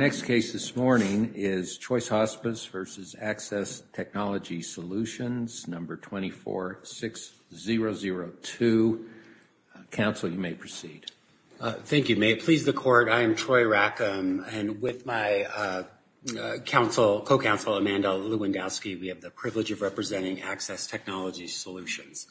246002. Council, you may proceed. Thank you. May it please the Court, I am Troy Rackham, and with my co-counsel Amanda Lewandowski, we have the privilege of representing Axxess Technology Solutions.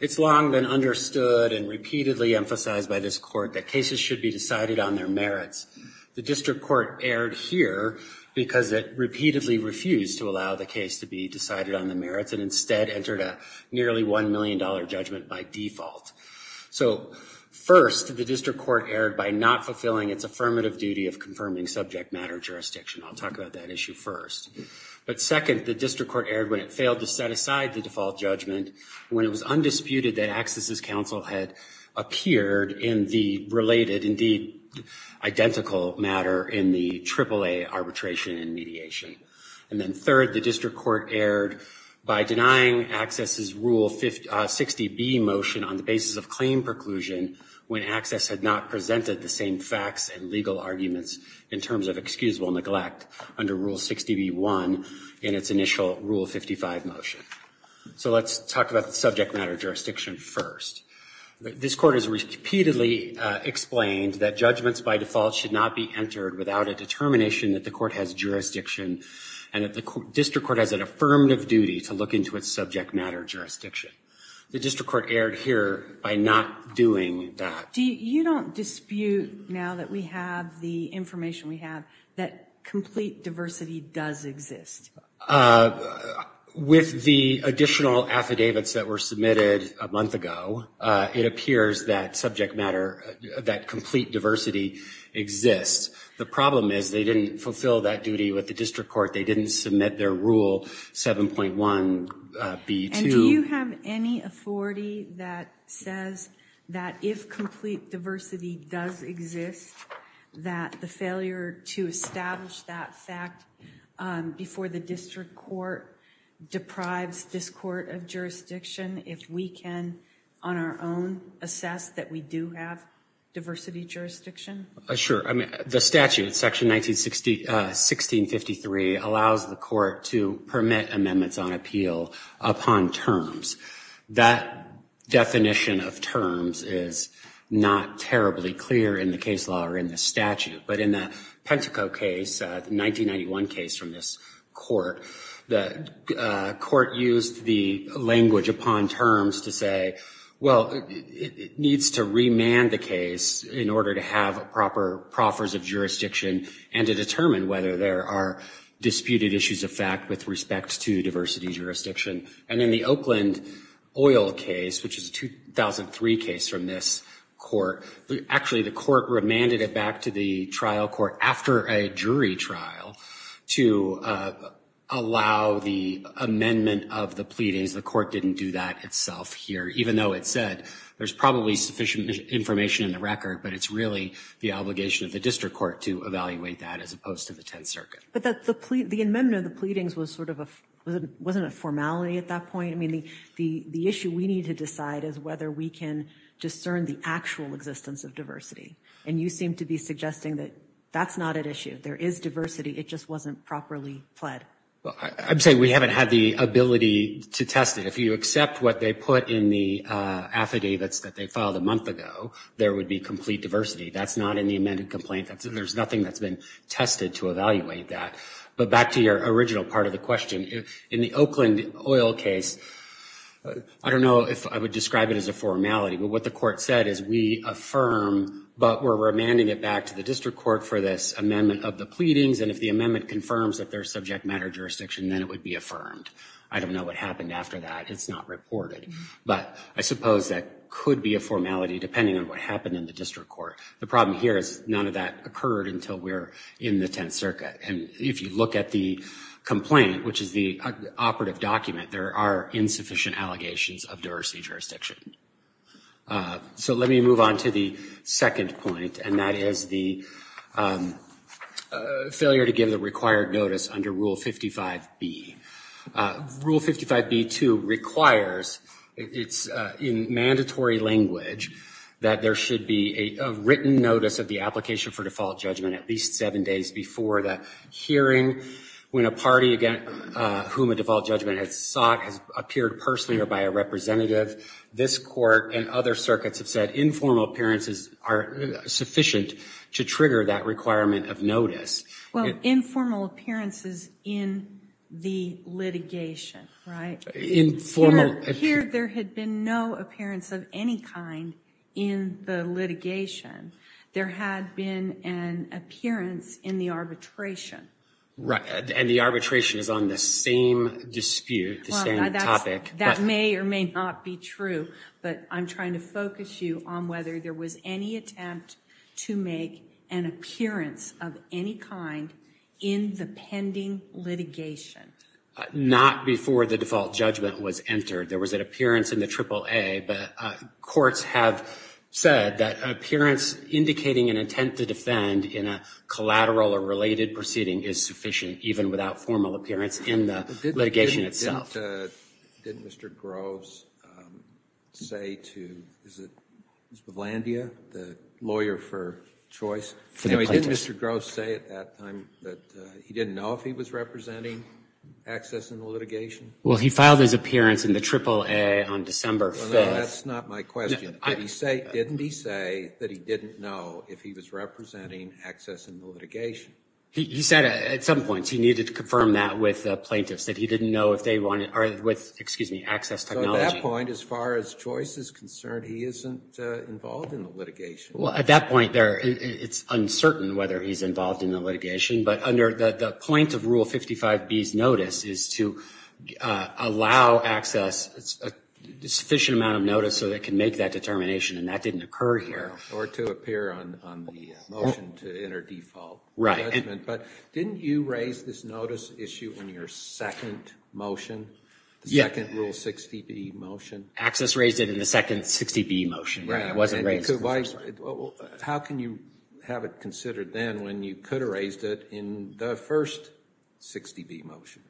It's long been understood and repeatedly emphasized by this Court that cases should be decided on their merits. The District Court erred here because it repeatedly refused to allow the case to be decided on the merits and instead entered a nearly $1 million judgment by default. So, first, the District Court erred by not fulfilling its affirmative duty of confirming subject matter jurisdiction. I'll talk about that issue first. But second, the District Court erred when it failed to set aside the default judgment when it was undisputed that Axsess's counsel had appeared in the related, indeed, identical matter in the AAA arbitration and mediation. And then third, the District Court erred by denying Axsess's Rule 60B motion on the basis of claim preclusion when Axsess had not presented the same facts and legal arguments in terms of excusable neglect under Rule 60B1 in its initial Rule 55 motion. So let's talk about the subject matter jurisdiction first. This Court has repeatedly explained that judgments by default should not be entered without a determination that the Court has jurisdiction and that the District Court has an affirmative duty to look into its subject matter jurisdiction. The District Court erred here by not doing that. Do you don't dispute now that we have the information we have that complete diversity does exist? With the additional affidavits that were submitted a month ago, it appears that subject matter, that complete diversity exists. The problem is they didn't fulfill that duty with the District Court. They didn't submit their Rule 7.1B2. Do you have any authority that says that if complete diversity does exist, that the failure to establish that fact before the District Court deprives this Court of jurisdiction if we can, on our own, assess that we do have diversity jurisdiction? Sure. I mean, the statute, Section 1653, allows the Court to permit amendments on appeal upon terms. That definition of terms is not terribly clear in the case law or in the statute. But in the Penteco case, the 1991 case from this Court, the Court used the language upon terms to say, well, it needs to remand the case in order to have proper proffers of jurisdiction and to determine whether there are disputed issues of fact with respect to diversity jurisdiction. And in the Oakland oil case, which is a 2003 case from this Court, actually the Court remanded it back to the trial court after a jury trial to allow the amendment of the pleadings. The Court didn't do that itself here, even though it said there's probably sufficient information in the record, but it's really the obligation of the District Court to evaluate that as opposed to the Tenth Circuit. But the amendment of the pleadings wasn't a formality at that point? I mean, the issue we need to decide is whether we can discern the actual existence of diversity. And you seem to be suggesting that that's not at issue. There is diversity. It just wasn't properly pled. Well, I'm saying we haven't had the ability to test it. If you accept what they put in the affidavits that they filed a month ago, there would be complete diversity. That's not in the amended complaint. There's nothing that's been tested to evaluate that. But back to your original part of the question. In the Oakland oil case, I don't know if I would describe it as a formality, but what the Court said is we affirm, but we're remanding it back to the District Court for this amendment of the pleadings. And if the amendment confirms that there's subject matter jurisdiction, then it would be affirmed. I don't know what happened after that. It's not reported. But I suppose that could be a formality, depending on what happened in the District Court. The problem here is none of that occurred until we're in the Tenth Circuit. And if you look at the complaint, which is the operative document, there are insufficient allegations of diversity jurisdiction. So let me move on to the second point, and that is the failure to give the required notice under Rule 55B. Rule 55B-2 requires, it's in mandatory language, that there should be a written notice of the application for default judgment at least seven days before that hearing. When a party whom a default judgment has sought has appeared personally or by a representative, this Court and other circuits have said informal appearances are sufficient to trigger that requirement of notice. Well, informal appearances in the litigation, right? Informal appearances. There had been no appearance of any kind in the litigation. There had been an appearance in the arbitration. Right. And the arbitration is on the same dispute, the same topic. That may or may not be true, but I'm trying to focus you on whether there was any attempt to make an appearance of any kind in the pending litigation. Not before the default judgment was entered. There was an appearance in the AAA, but courts have said that appearance indicating an intent to defend in a collateral or related proceeding is sufficient, even without formal appearance in the litigation itself. Didn't Mr. Groves say to, is it Ms. Bavlandia, the lawyer for choice? Didn't Mr. Groves say at that time that he didn't know if he was representing access in the litigation? Well, he filed his appearance in the AAA on December 5th. That's not my question. Didn't he say that he didn't know if he was representing access in the litigation? He said at some points he needed to confirm that with plaintiffs, that he didn't know if they wanted, or with, excuse me, access technology. So at that point, as far as choice is concerned, he isn't involved in the litigation. Well, at that point, it's uncertain whether he's involved in the litigation, but under the point of Rule 55B's notice is to allow access a sufficient amount of notice so they can make that determination, and that didn't occur here. Or to appear on the motion to enter default. Right. But didn't you raise this notice issue in your second motion, the second Rule 60B motion? Access raised it in the second 60B motion. Right. It wasn't raised in the first one. How can you have it considered then when you could have raised it in the first 60B motion?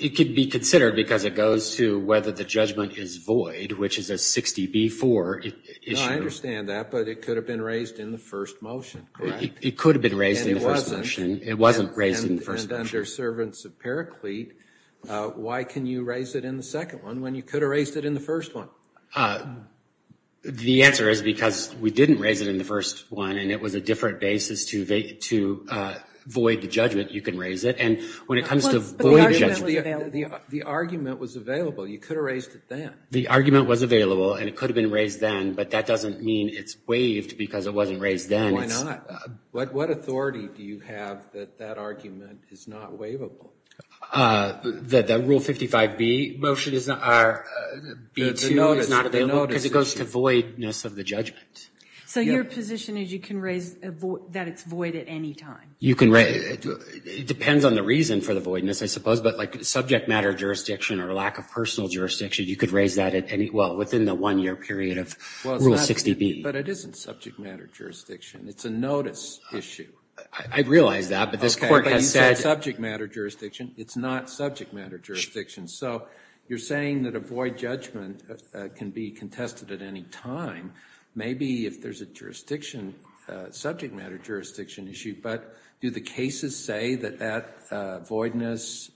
It could be considered because it goes to whether the judgment is void, which is a 60B-4 issue. I understand that, but it could have been raised in the first motion, correct? It could have been raised in the first motion. It wasn't raised in the first motion. And under Servants of Paraclete, why can you raise it in the second one when you could have raised it in the first one? The answer is because we didn't raise it in the first one, and it was a different basis to void the judgment you can raise it. And when it comes to void judgment. But the argument was available. The argument was available. You could have raised it then. The argument was available, and it could have been raised then, but that doesn't mean it's waived because it wasn't raised then. Why not? What authority do you have that that argument is not waivable? The Rule 55B motion is not, B2 is not, because it goes to voidness of the judgment. So your position is you can raise that it's void at any time? You can raise it. It depends on the reason for the voidness, I suppose, but like subject matter jurisdiction or lack of personal jurisdiction, you could raise that at any, well, within the one-year period of Rule 60B. But it isn't subject matter jurisdiction. It's a notice issue. I realize that, but this Court has said. But you said subject matter jurisdiction. It's not subject matter jurisdiction. So you're saying that a void judgment can be contested at any time, maybe if there's a jurisdiction, subject matter jurisdiction issue. But do the cases say that that voidness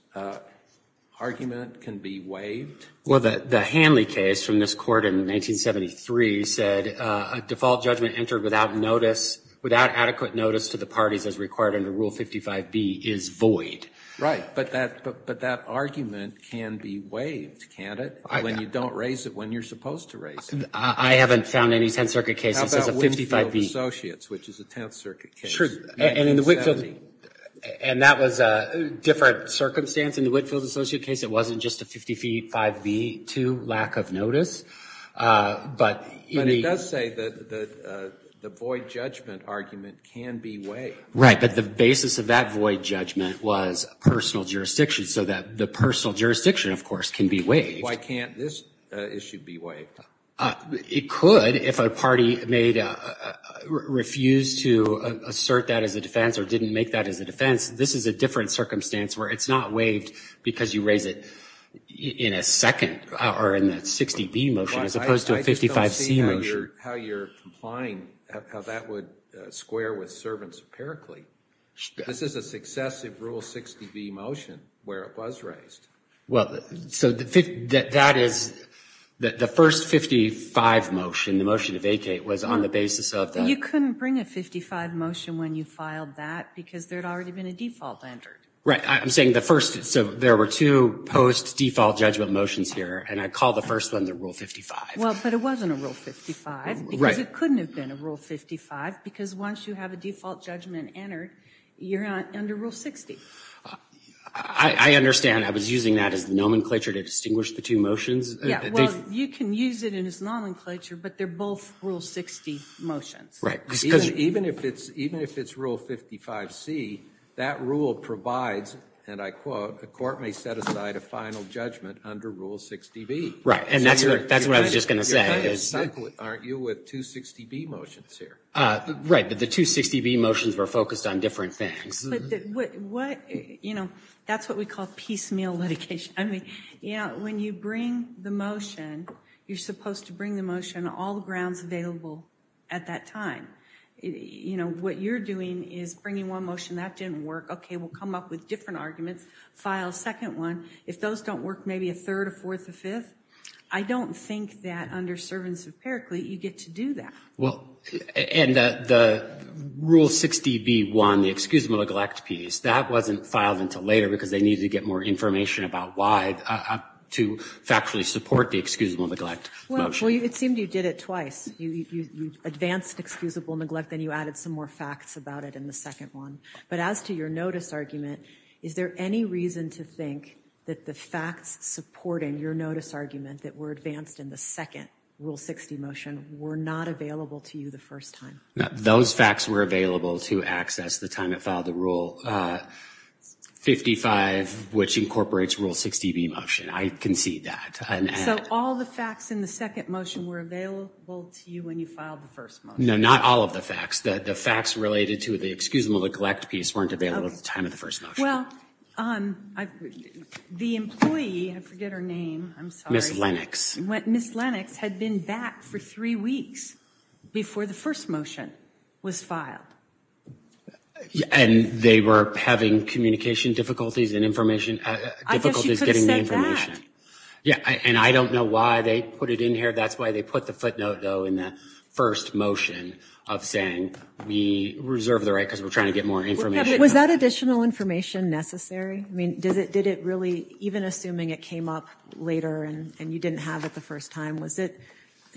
argument can be waived? Well, the Hanley case from this Court in 1973 said a default judgment entered without notice, without adequate notice to the parties as required under Rule 55B is void. Right. But that argument can be waived, can't it, when you don't raise it, when you're supposed to raise it? I haven't found any Tenth Circuit case that says a 55B. How about Whitfield Associates, which is a Tenth Circuit case? And that was a different circumstance. In the Whitfield Associates case, it wasn't just a 55B-2 lack of notice. But it does say that the void judgment argument can be waived. Right. But the basis of that void judgment was personal jurisdiction, so that the personal jurisdiction, of course, can be waived. Why can't this issue be waived? It could if a party refused to assert that as a defense or didn't make that as a defense. This is a different circumstance where it's not waived because you raise it in a second or in a 60B motion as opposed to a 55C motion. I just don't see how you're complying, how that would square with servants empirically. This is a successive Rule 60B motion where it was raised. Well, so that is the first 55 motion, the motion to vacate, was on the basis of that. But you couldn't bring a 55 motion when you filed that because there had already been a default entered. Right. I'm saying the first, so there were two post-default judgment motions here, and I called the first one the Rule 55. Well, but it wasn't a Rule 55 because it couldn't have been a Rule 55 because once you have a default judgment entered, you're under Rule 60. I understand. I was using that as the nomenclature to distinguish the two motions. Yeah, well, you can use it in its nomenclature, but they're both Rule 60 motions. Even if it's Rule 55C, that rule provides, and I quote, a court may set aside a final judgment under Rule 60B. Right, and that's what I was just going to say. Aren't you with two 60B motions here? Right, but the two 60B motions were focused on different things. But what, you know, that's what we call piecemeal litigation. I mean, yeah, when you bring the motion, you're supposed to bring the motion, all the grounds available at that time. You know, what you're doing is bringing one motion that didn't work, okay, we'll come up with different arguments, file a second one. If those don't work, maybe a third, a fourth, a fifth. I don't think that under Servants of Pericles you get to do that. Well, and the Rule 60B1, the excusable neglect piece, that wasn't filed until later because they needed to get more information about why to factually support the excusable neglect motion. Well, it seemed you did it twice. You advanced excusable neglect, then you added some more facts about it in the second one. But as to your notice argument, is there any reason to think that the facts supporting your notice argument that were advanced in the second Rule 60 motion were not available to you the first time? Those facts were available to access the time it filed the Rule 55, which incorporates Rule 60B motion. I concede that. So all the facts in the second motion were available to you when you filed the first motion? No, not all of the facts. The facts related to the excusable neglect piece weren't available at the time of the first motion. Well, the employee, I forget her name, I'm sorry. Ms. Lennox. Ms. Lennox had been back for three weeks before the first motion was filed. And they were having communication difficulties and information, difficulties getting the information. I guess you could have said that. Yeah, and I don't know why they put it in here. That's why they put the footnote, though, in the first motion of saying we reserve the right because we're trying to get more information. Was that additional information necessary? I mean, did it really, even assuming it came up later and you didn't have it the first time, was it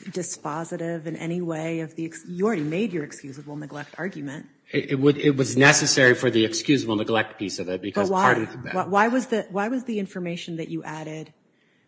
dispositive in any way of the, you already made your excusable neglect argument. It was necessary for the excusable neglect piece of it. Why was the information that you added,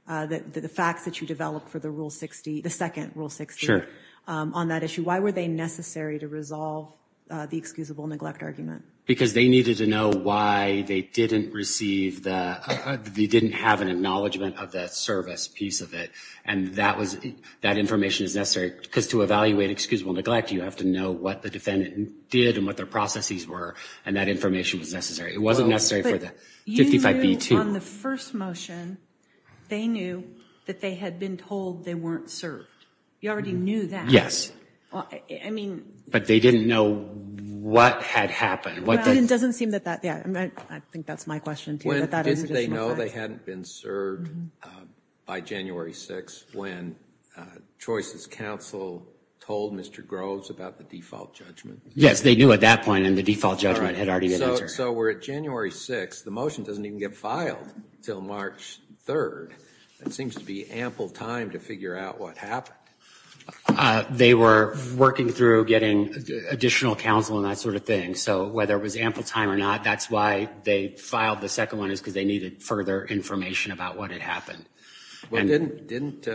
the facts that you developed for the rule 60, the second rule 60 on that issue, why were they necessary to resolve the excusable neglect argument? Because they needed to know why they didn't receive the, they didn't have an acknowledgement of that service piece of it. And that was, that information is necessary because to evaluate excusable neglect, you have to know what the defendant did and what their processes were. And that information was necessary. It wasn't necessary for the 55B2. But you knew on the first motion, they knew that they had been told they weren't served. You already knew that. Yes. I mean. But they didn't know what had happened. Well, it doesn't seem that that, yeah, I think that's my question too. Did they know they hadn't been served by January 6th when Choices Council told Mr. Groves about the default judgment? Yes, they knew at that point and the default judgment had already been answered. And so we're at January 6th. The motion doesn't even get filed until March 3rd. It seems to be ample time to figure out what happened. They were working through getting additional counsel and that sort of thing. So whether it was ample time or not, that's why they filed the second one, is because they needed further information about what had happened. Well, didn't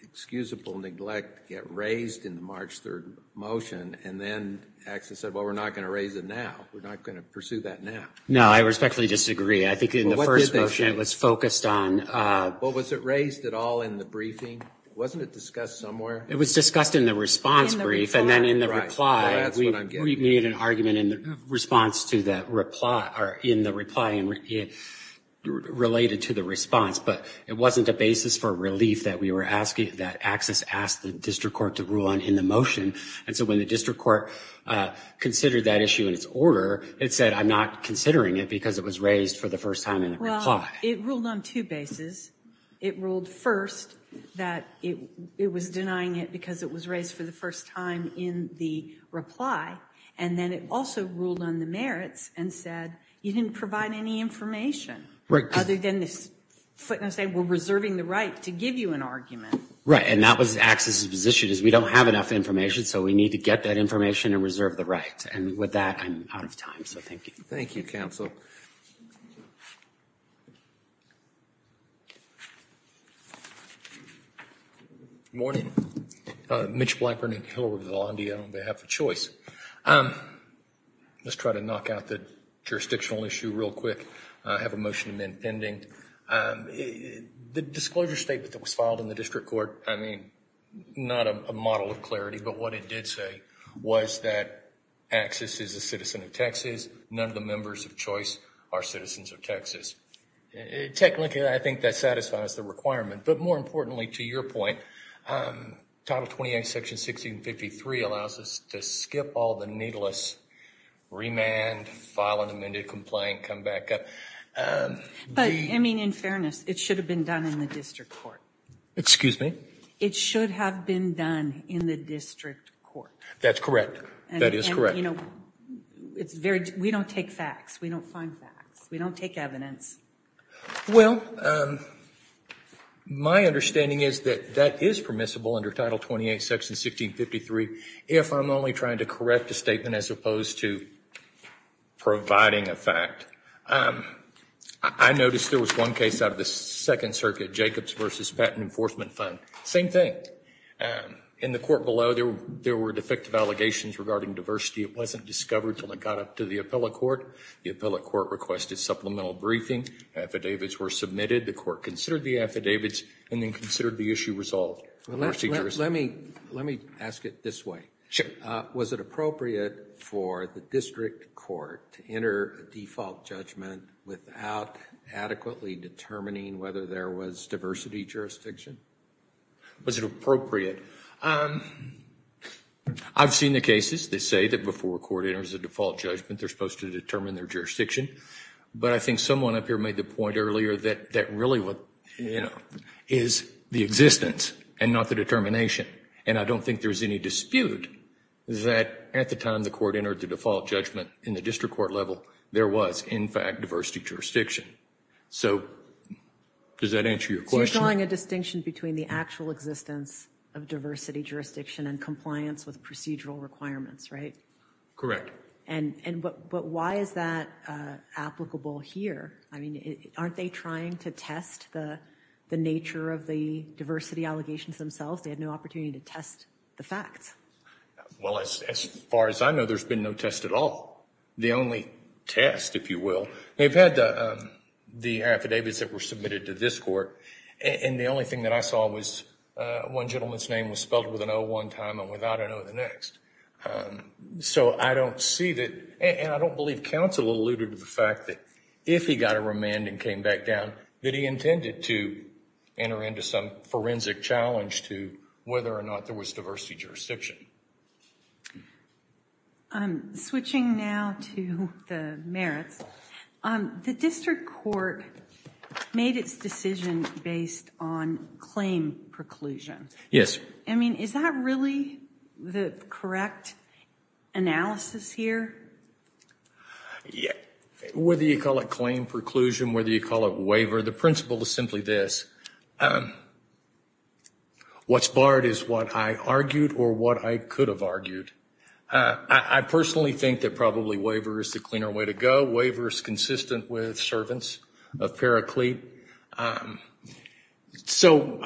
excusable neglect get raised in the March 3rd motion? And then AXIS said, well, we're not going to raise it now. We're not going to pursue that now. No, I respectfully disagree. I think in the first motion it was focused on. Well, was it raised at all in the briefing? Wasn't it discussed somewhere? It was discussed in the response brief and then in the reply. We made an argument in the response to that reply or in the reply related to the response. But it wasn't a basis for relief that we were asking, that AXIS asked the district court to rule on in the motion. And so when the district court considered that issue in its order, it said I'm not considering it because it was raised for the first time in the reply. Well, it ruled on two bases. It ruled first that it was denying it because it was raised for the first time in the reply. And then it also ruled on the merits and said you didn't provide any information. Right. Other than this footnote saying we're reserving the right to give you an argument. Right. And that was AXIS's position is we don't have enough information, so we need to get that information and reserve the right. And with that, I'm out of time. So, thank you. Thank you, counsel. Good morning. Mitch Blackburn and Hilary Vazlandia on behalf of CHOICE. Let's try to knock out the jurisdictional issue real quick. I have a motion to amend pending. The disclosure statement that was filed in the district court, I mean, not a model of clarity, but what it did say was that AXIS is a citizen of Texas. None of the members of CHOICE are citizens of Texas. Technically, I think that satisfies the requirement. But more importantly, to your point, Title 28, Section 1653, allows us to skip all the needless remand, file an amended complaint, come back up. But, I mean, in fairness, it should have been done in the district court. Excuse me? It should have been done in the district court. That's correct. That is correct. We don't take facts. We don't find facts. We don't take evidence. Well, my understanding is that that is permissible under Title 28, Section 1653, if I'm only trying to correct a statement as opposed to providing a fact. I noticed there was one case out of the Second Circuit, Jacobs v. Patent Enforcement Fund. Same thing. In the court below, there were defective allegations regarding diversity. It wasn't discovered until it got up to the appellate court. The appellate court requested supplemental briefing. Affidavits were submitted. The court considered the affidavits and then considered the issue resolved. Let me ask it this way. Was it appropriate for the district court to enter a default judgment without adequately determining whether there was diversity jurisdiction? Was it appropriate? I've seen the cases. They say that before a court enters a default judgment, they're supposed to determine their jurisdiction. I think someone up here made the point earlier that really is the existence and not the determination. I don't think there's any dispute that at the time the court entered the default judgment in the district court level, there was, in fact, diversity jurisdiction. Does that answer your question? You're drawing a distinction between the actual existence of diversity jurisdiction and compliance with procedural requirements, right? Correct. But why is that applicable here? I mean, aren't they trying to test the nature of the diversity allegations themselves? They had no opportunity to test the facts. Well, as far as I know, there's been no test at all. The only test, if you will. They've had the affidavits that were submitted to this court, and the only thing that I saw was one gentleman's name was spelled with an O one time and without an O the next. So I don't see that, and I don't believe counsel alluded to the fact that if he got a remand and came back down, that he intended to enter into some forensic challenge to whether or not there was diversity jurisdiction. Switching now to the merits, the district court made its decision based on claim preclusion. Yes. I mean, is that really the correct analysis here? Whether you call it claim preclusion, whether you call it waiver, the principle is simply this. What's barred is what I argued or what I could have argued. I personally think that probably waiver is the cleaner way to go. Waiver is consistent with servants of Paraclete. So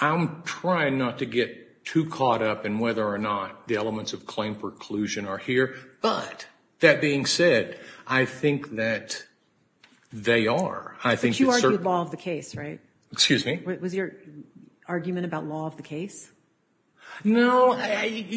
I'm trying not to get too caught up in whether or not the elements of claim preclusion are here, but that being said, I think that they are. But you argued law of the case, right? Excuse me? Was your argument about law of the case? No. I guess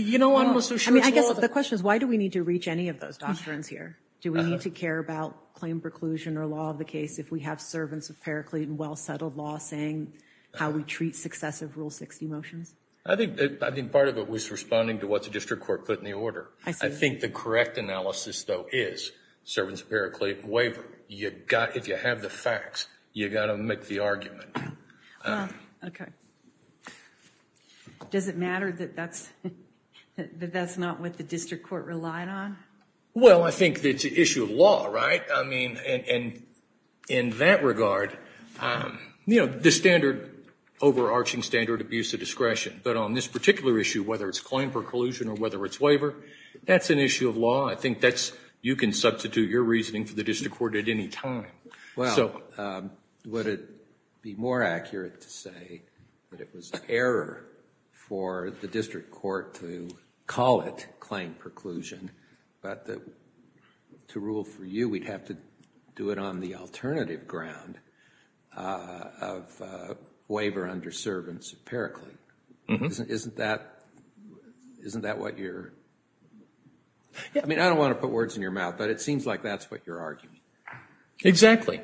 the question is why do we need to reach any of those doctrines here? Do we need to care about claim preclusion or law of the case if we have servants of Paraclete and well-settled law saying how we treat successive Rule 60 motions? I think part of it was responding to what the district court put in the order. I see. I think the correct analysis, though, is servants of Paraclete and waiver. If you have the facts, you've got to make the argument. Okay. Does it matter that that's not what the district court relied on? Well, I think it's an issue of law, right? I mean, in that regard, you know, the standard overarching standard of use of discretion, but on this particular issue, whether it's claim preclusion or whether it's waiver, that's an issue of law. I think you can substitute your reasoning for the district court at any time. Well, would it be more accurate to say that it was an error for the district court to call it claim preclusion, but to rule for you, we'd have to do it on the alternative ground of waiver under servants of Paraclete. Isn't that what you're – I mean, I don't want to put words in your mouth, but it seems like that's what you're arguing. Exactly.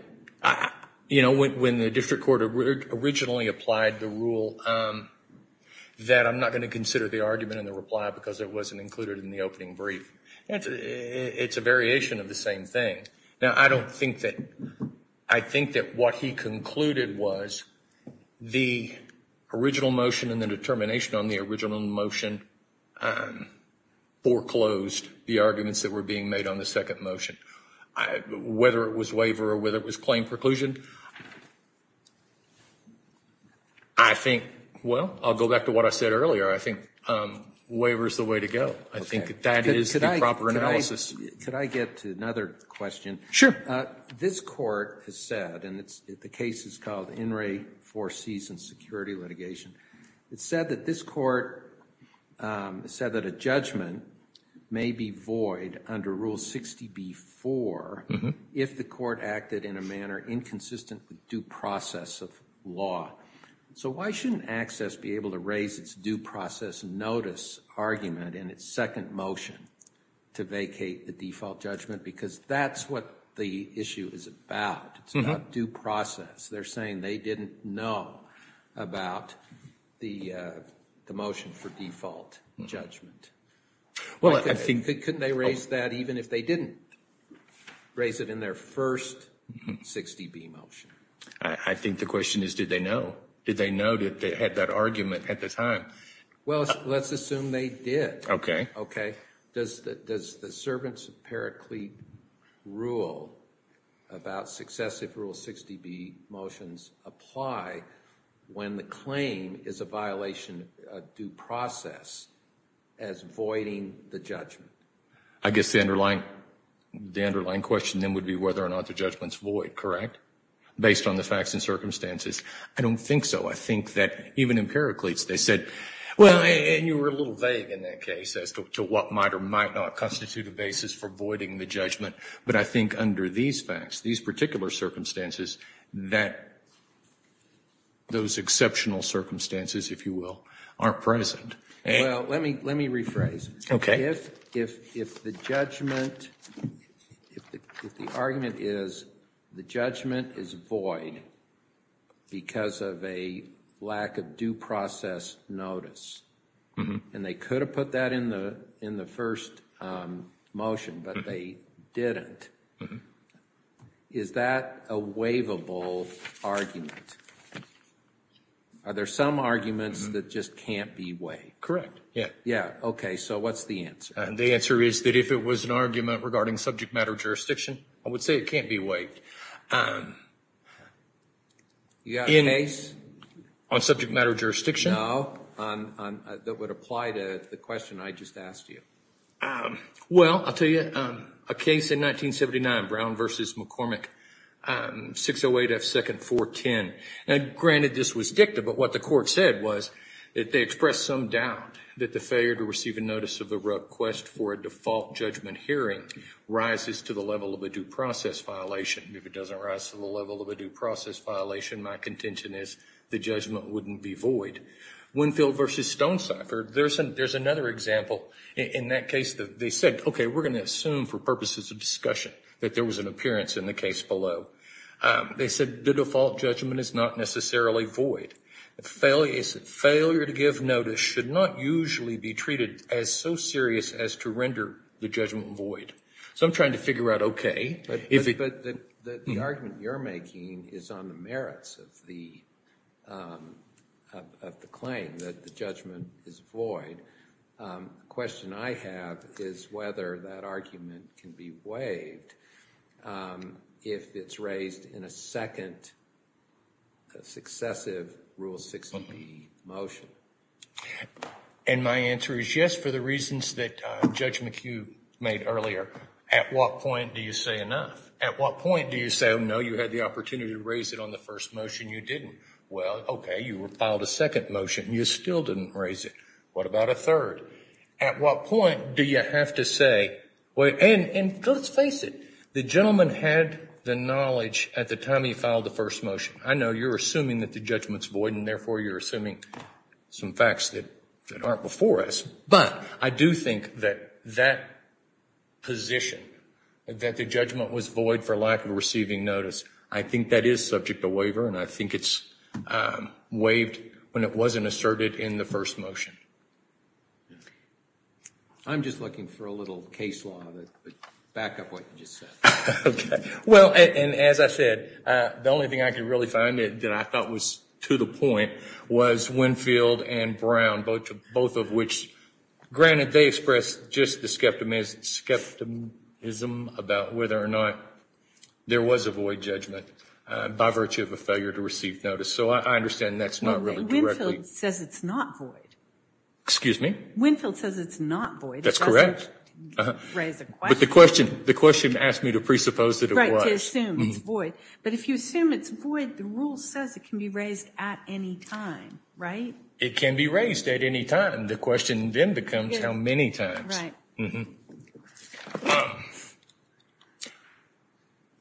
You know, when the district court originally applied the rule that I'm not going to consider the argument in the reply because it wasn't included in the opening brief, it's a variation of the same thing. Now, I don't think that – I think that what he concluded was the original motion and the determination on the original motion foreclosed the arguments that were being made on the second motion. Whether it was waiver or whether it was claim preclusion, I think – well, I'll go back to what I said earlier. I think waiver is the way to go. I think that is the proper analysis. Could I get to another question? Sure. This court has said, and the case is called In re Foresees in Security Litigation, it's said that this court said that a judgment may be void under Rule 60b-4 if the court acted in a manner inconsistent with due process of law. So why shouldn't ACCESS be able to raise its due process notice argument in its second motion to vacate the default judgment because that's what the issue is about. It's not due process. They're saying they didn't know about the motion for default judgment. Well, I think – Couldn't they raise that even if they didn't raise it in their first 60b motion? I think the question is, did they know? Did they know that they had that argument at the time? Well, let's assume they did. Okay. Does the Servants of Paraclete rule about successive Rule 60b motions apply when the claim is a violation of due process as voiding the judgment? I guess the underlying question then would be whether or not the judgment is void, correct, based on the facts and circumstances? I don't think so. I think that even in Paraclete's they said – And you were a little vague in that case as to what might or might not constitute a basis for voiding the judgment. But I think under these facts, these particular circumstances, that those exceptional circumstances, if you will, aren't present. Well, let me rephrase. Okay. If the argument is the judgment is void because of a lack of due process notice, and they could have put that in the first motion, but they didn't, is that a waivable argument? Are there some arguments that just can't be waived? Correct. Yeah. Okay. So what's the answer? The answer is that if it was an argument regarding subject matter jurisdiction, I would say it can't be waived. You got a case? On subject matter jurisdiction? No. That would apply to the question I just asked you. Well, I'll tell you. A case in 1979, Brown v. McCormick, 608 F. 2nd 410. Granted, this was dicta, but what the court said was that they expressed some doubt that the failure to receive a notice of the request for a default judgment hearing rises to the level of a due process violation. If it doesn't rise to the level of a due process violation, my contention is the judgment wouldn't be void. Winfield v. Stonecipher, there's another example in that case. They said, okay, we're going to assume for purposes of discussion that there was an appearance in the case below. They said the default judgment is not necessarily void. Failure to give notice should not usually be treated as so serious as to render the judgment void. So I'm trying to figure out, okay. But the argument you're making is on the merits of the claim that the judgment is void. The question I have is whether that argument can be waived. If it's raised in a second successive Rule 60B motion. And my answer is yes for the reasons that Judge McHugh made earlier. At what point do you say enough? At what point do you say, oh, no, you had the opportunity to raise it on the first motion. You didn't. Well, okay, you filed a second motion. You still didn't raise it. What about a third? At what point do you have to say, and let's face it, the gentleman had the knowledge at the time he filed the first motion. I know you're assuming that the judgment's void, and therefore you're assuming some facts that aren't before us. But I do think that that position, that the judgment was void for lack of receiving notice, I think that is subject to waiver, and I think it's waived when it wasn't asserted in the first motion. I'm just looking for a little case law to back up what you just said. Okay. Well, and as I said, the only thing I could really find that I thought was to the point was Winfield and Brown, both of which, granted they expressed just the skepticism about whether or not there was a void judgment by virtue of a failure to receive notice. So I understand that's not really correct. Winfield says it's not void. Excuse me? Winfield says it's not void. That's correct. But the question asked me to presuppose that it was. Right, to assume it's void. But if you assume it's void, the rule says it can be raised at any time, right? It can be raised at any time. The question then becomes how many times.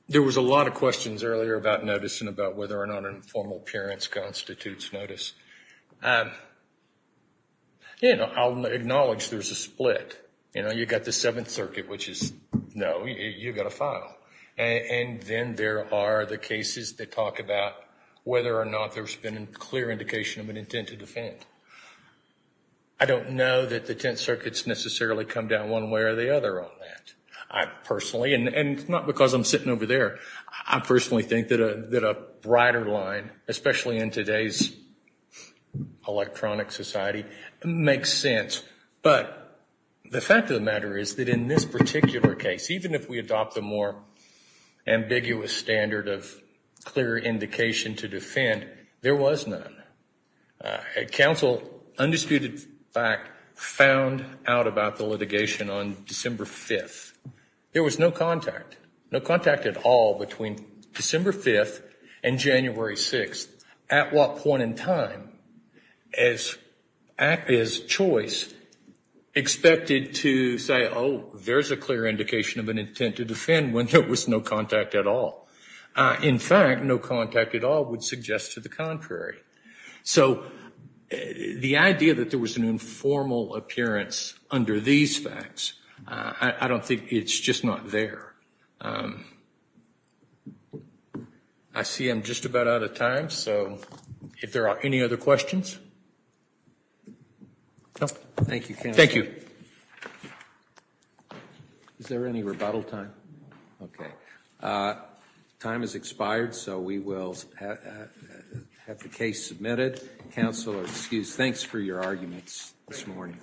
There was a lot of questions earlier about notice and about whether or not an informal appearance constitutes notice. You know, I'll acknowledge there's a split. You know, you've got the Seventh Circuit, which is no, you've got to file. And then there are the cases that talk about whether or not there's been a clear indication of an intent to defend. I don't know that the Tenth Circuit's necessarily come down one way or the other on that. I personally, and not because I'm sitting over there, I personally think that a brighter line, especially in today's electronic society, makes sense. But the fact of the matter is that in this particular case, even if we adopt the more ambiguous standard of clear indication to defend, there was none. Counsel, undisputed fact, found out about the litigation on December 5th. There was no contact, no contact at all between December 5th and January 6th. At what point in time is choice expected to say, oh, there's a clear indication of an intent to defend when there was no contact at all? In fact, no contact at all would suggest to the contrary. So the idea that there was an informal appearance under these facts, I don't think it's just not there. I see I'm just about out of time, so if there are any other questions. Thank you, counsel. Thank you. Is there any rebuttal time? Okay. Time has expired, so we will have the case submitted. Counsel is excused. Thanks for your arguments this morning.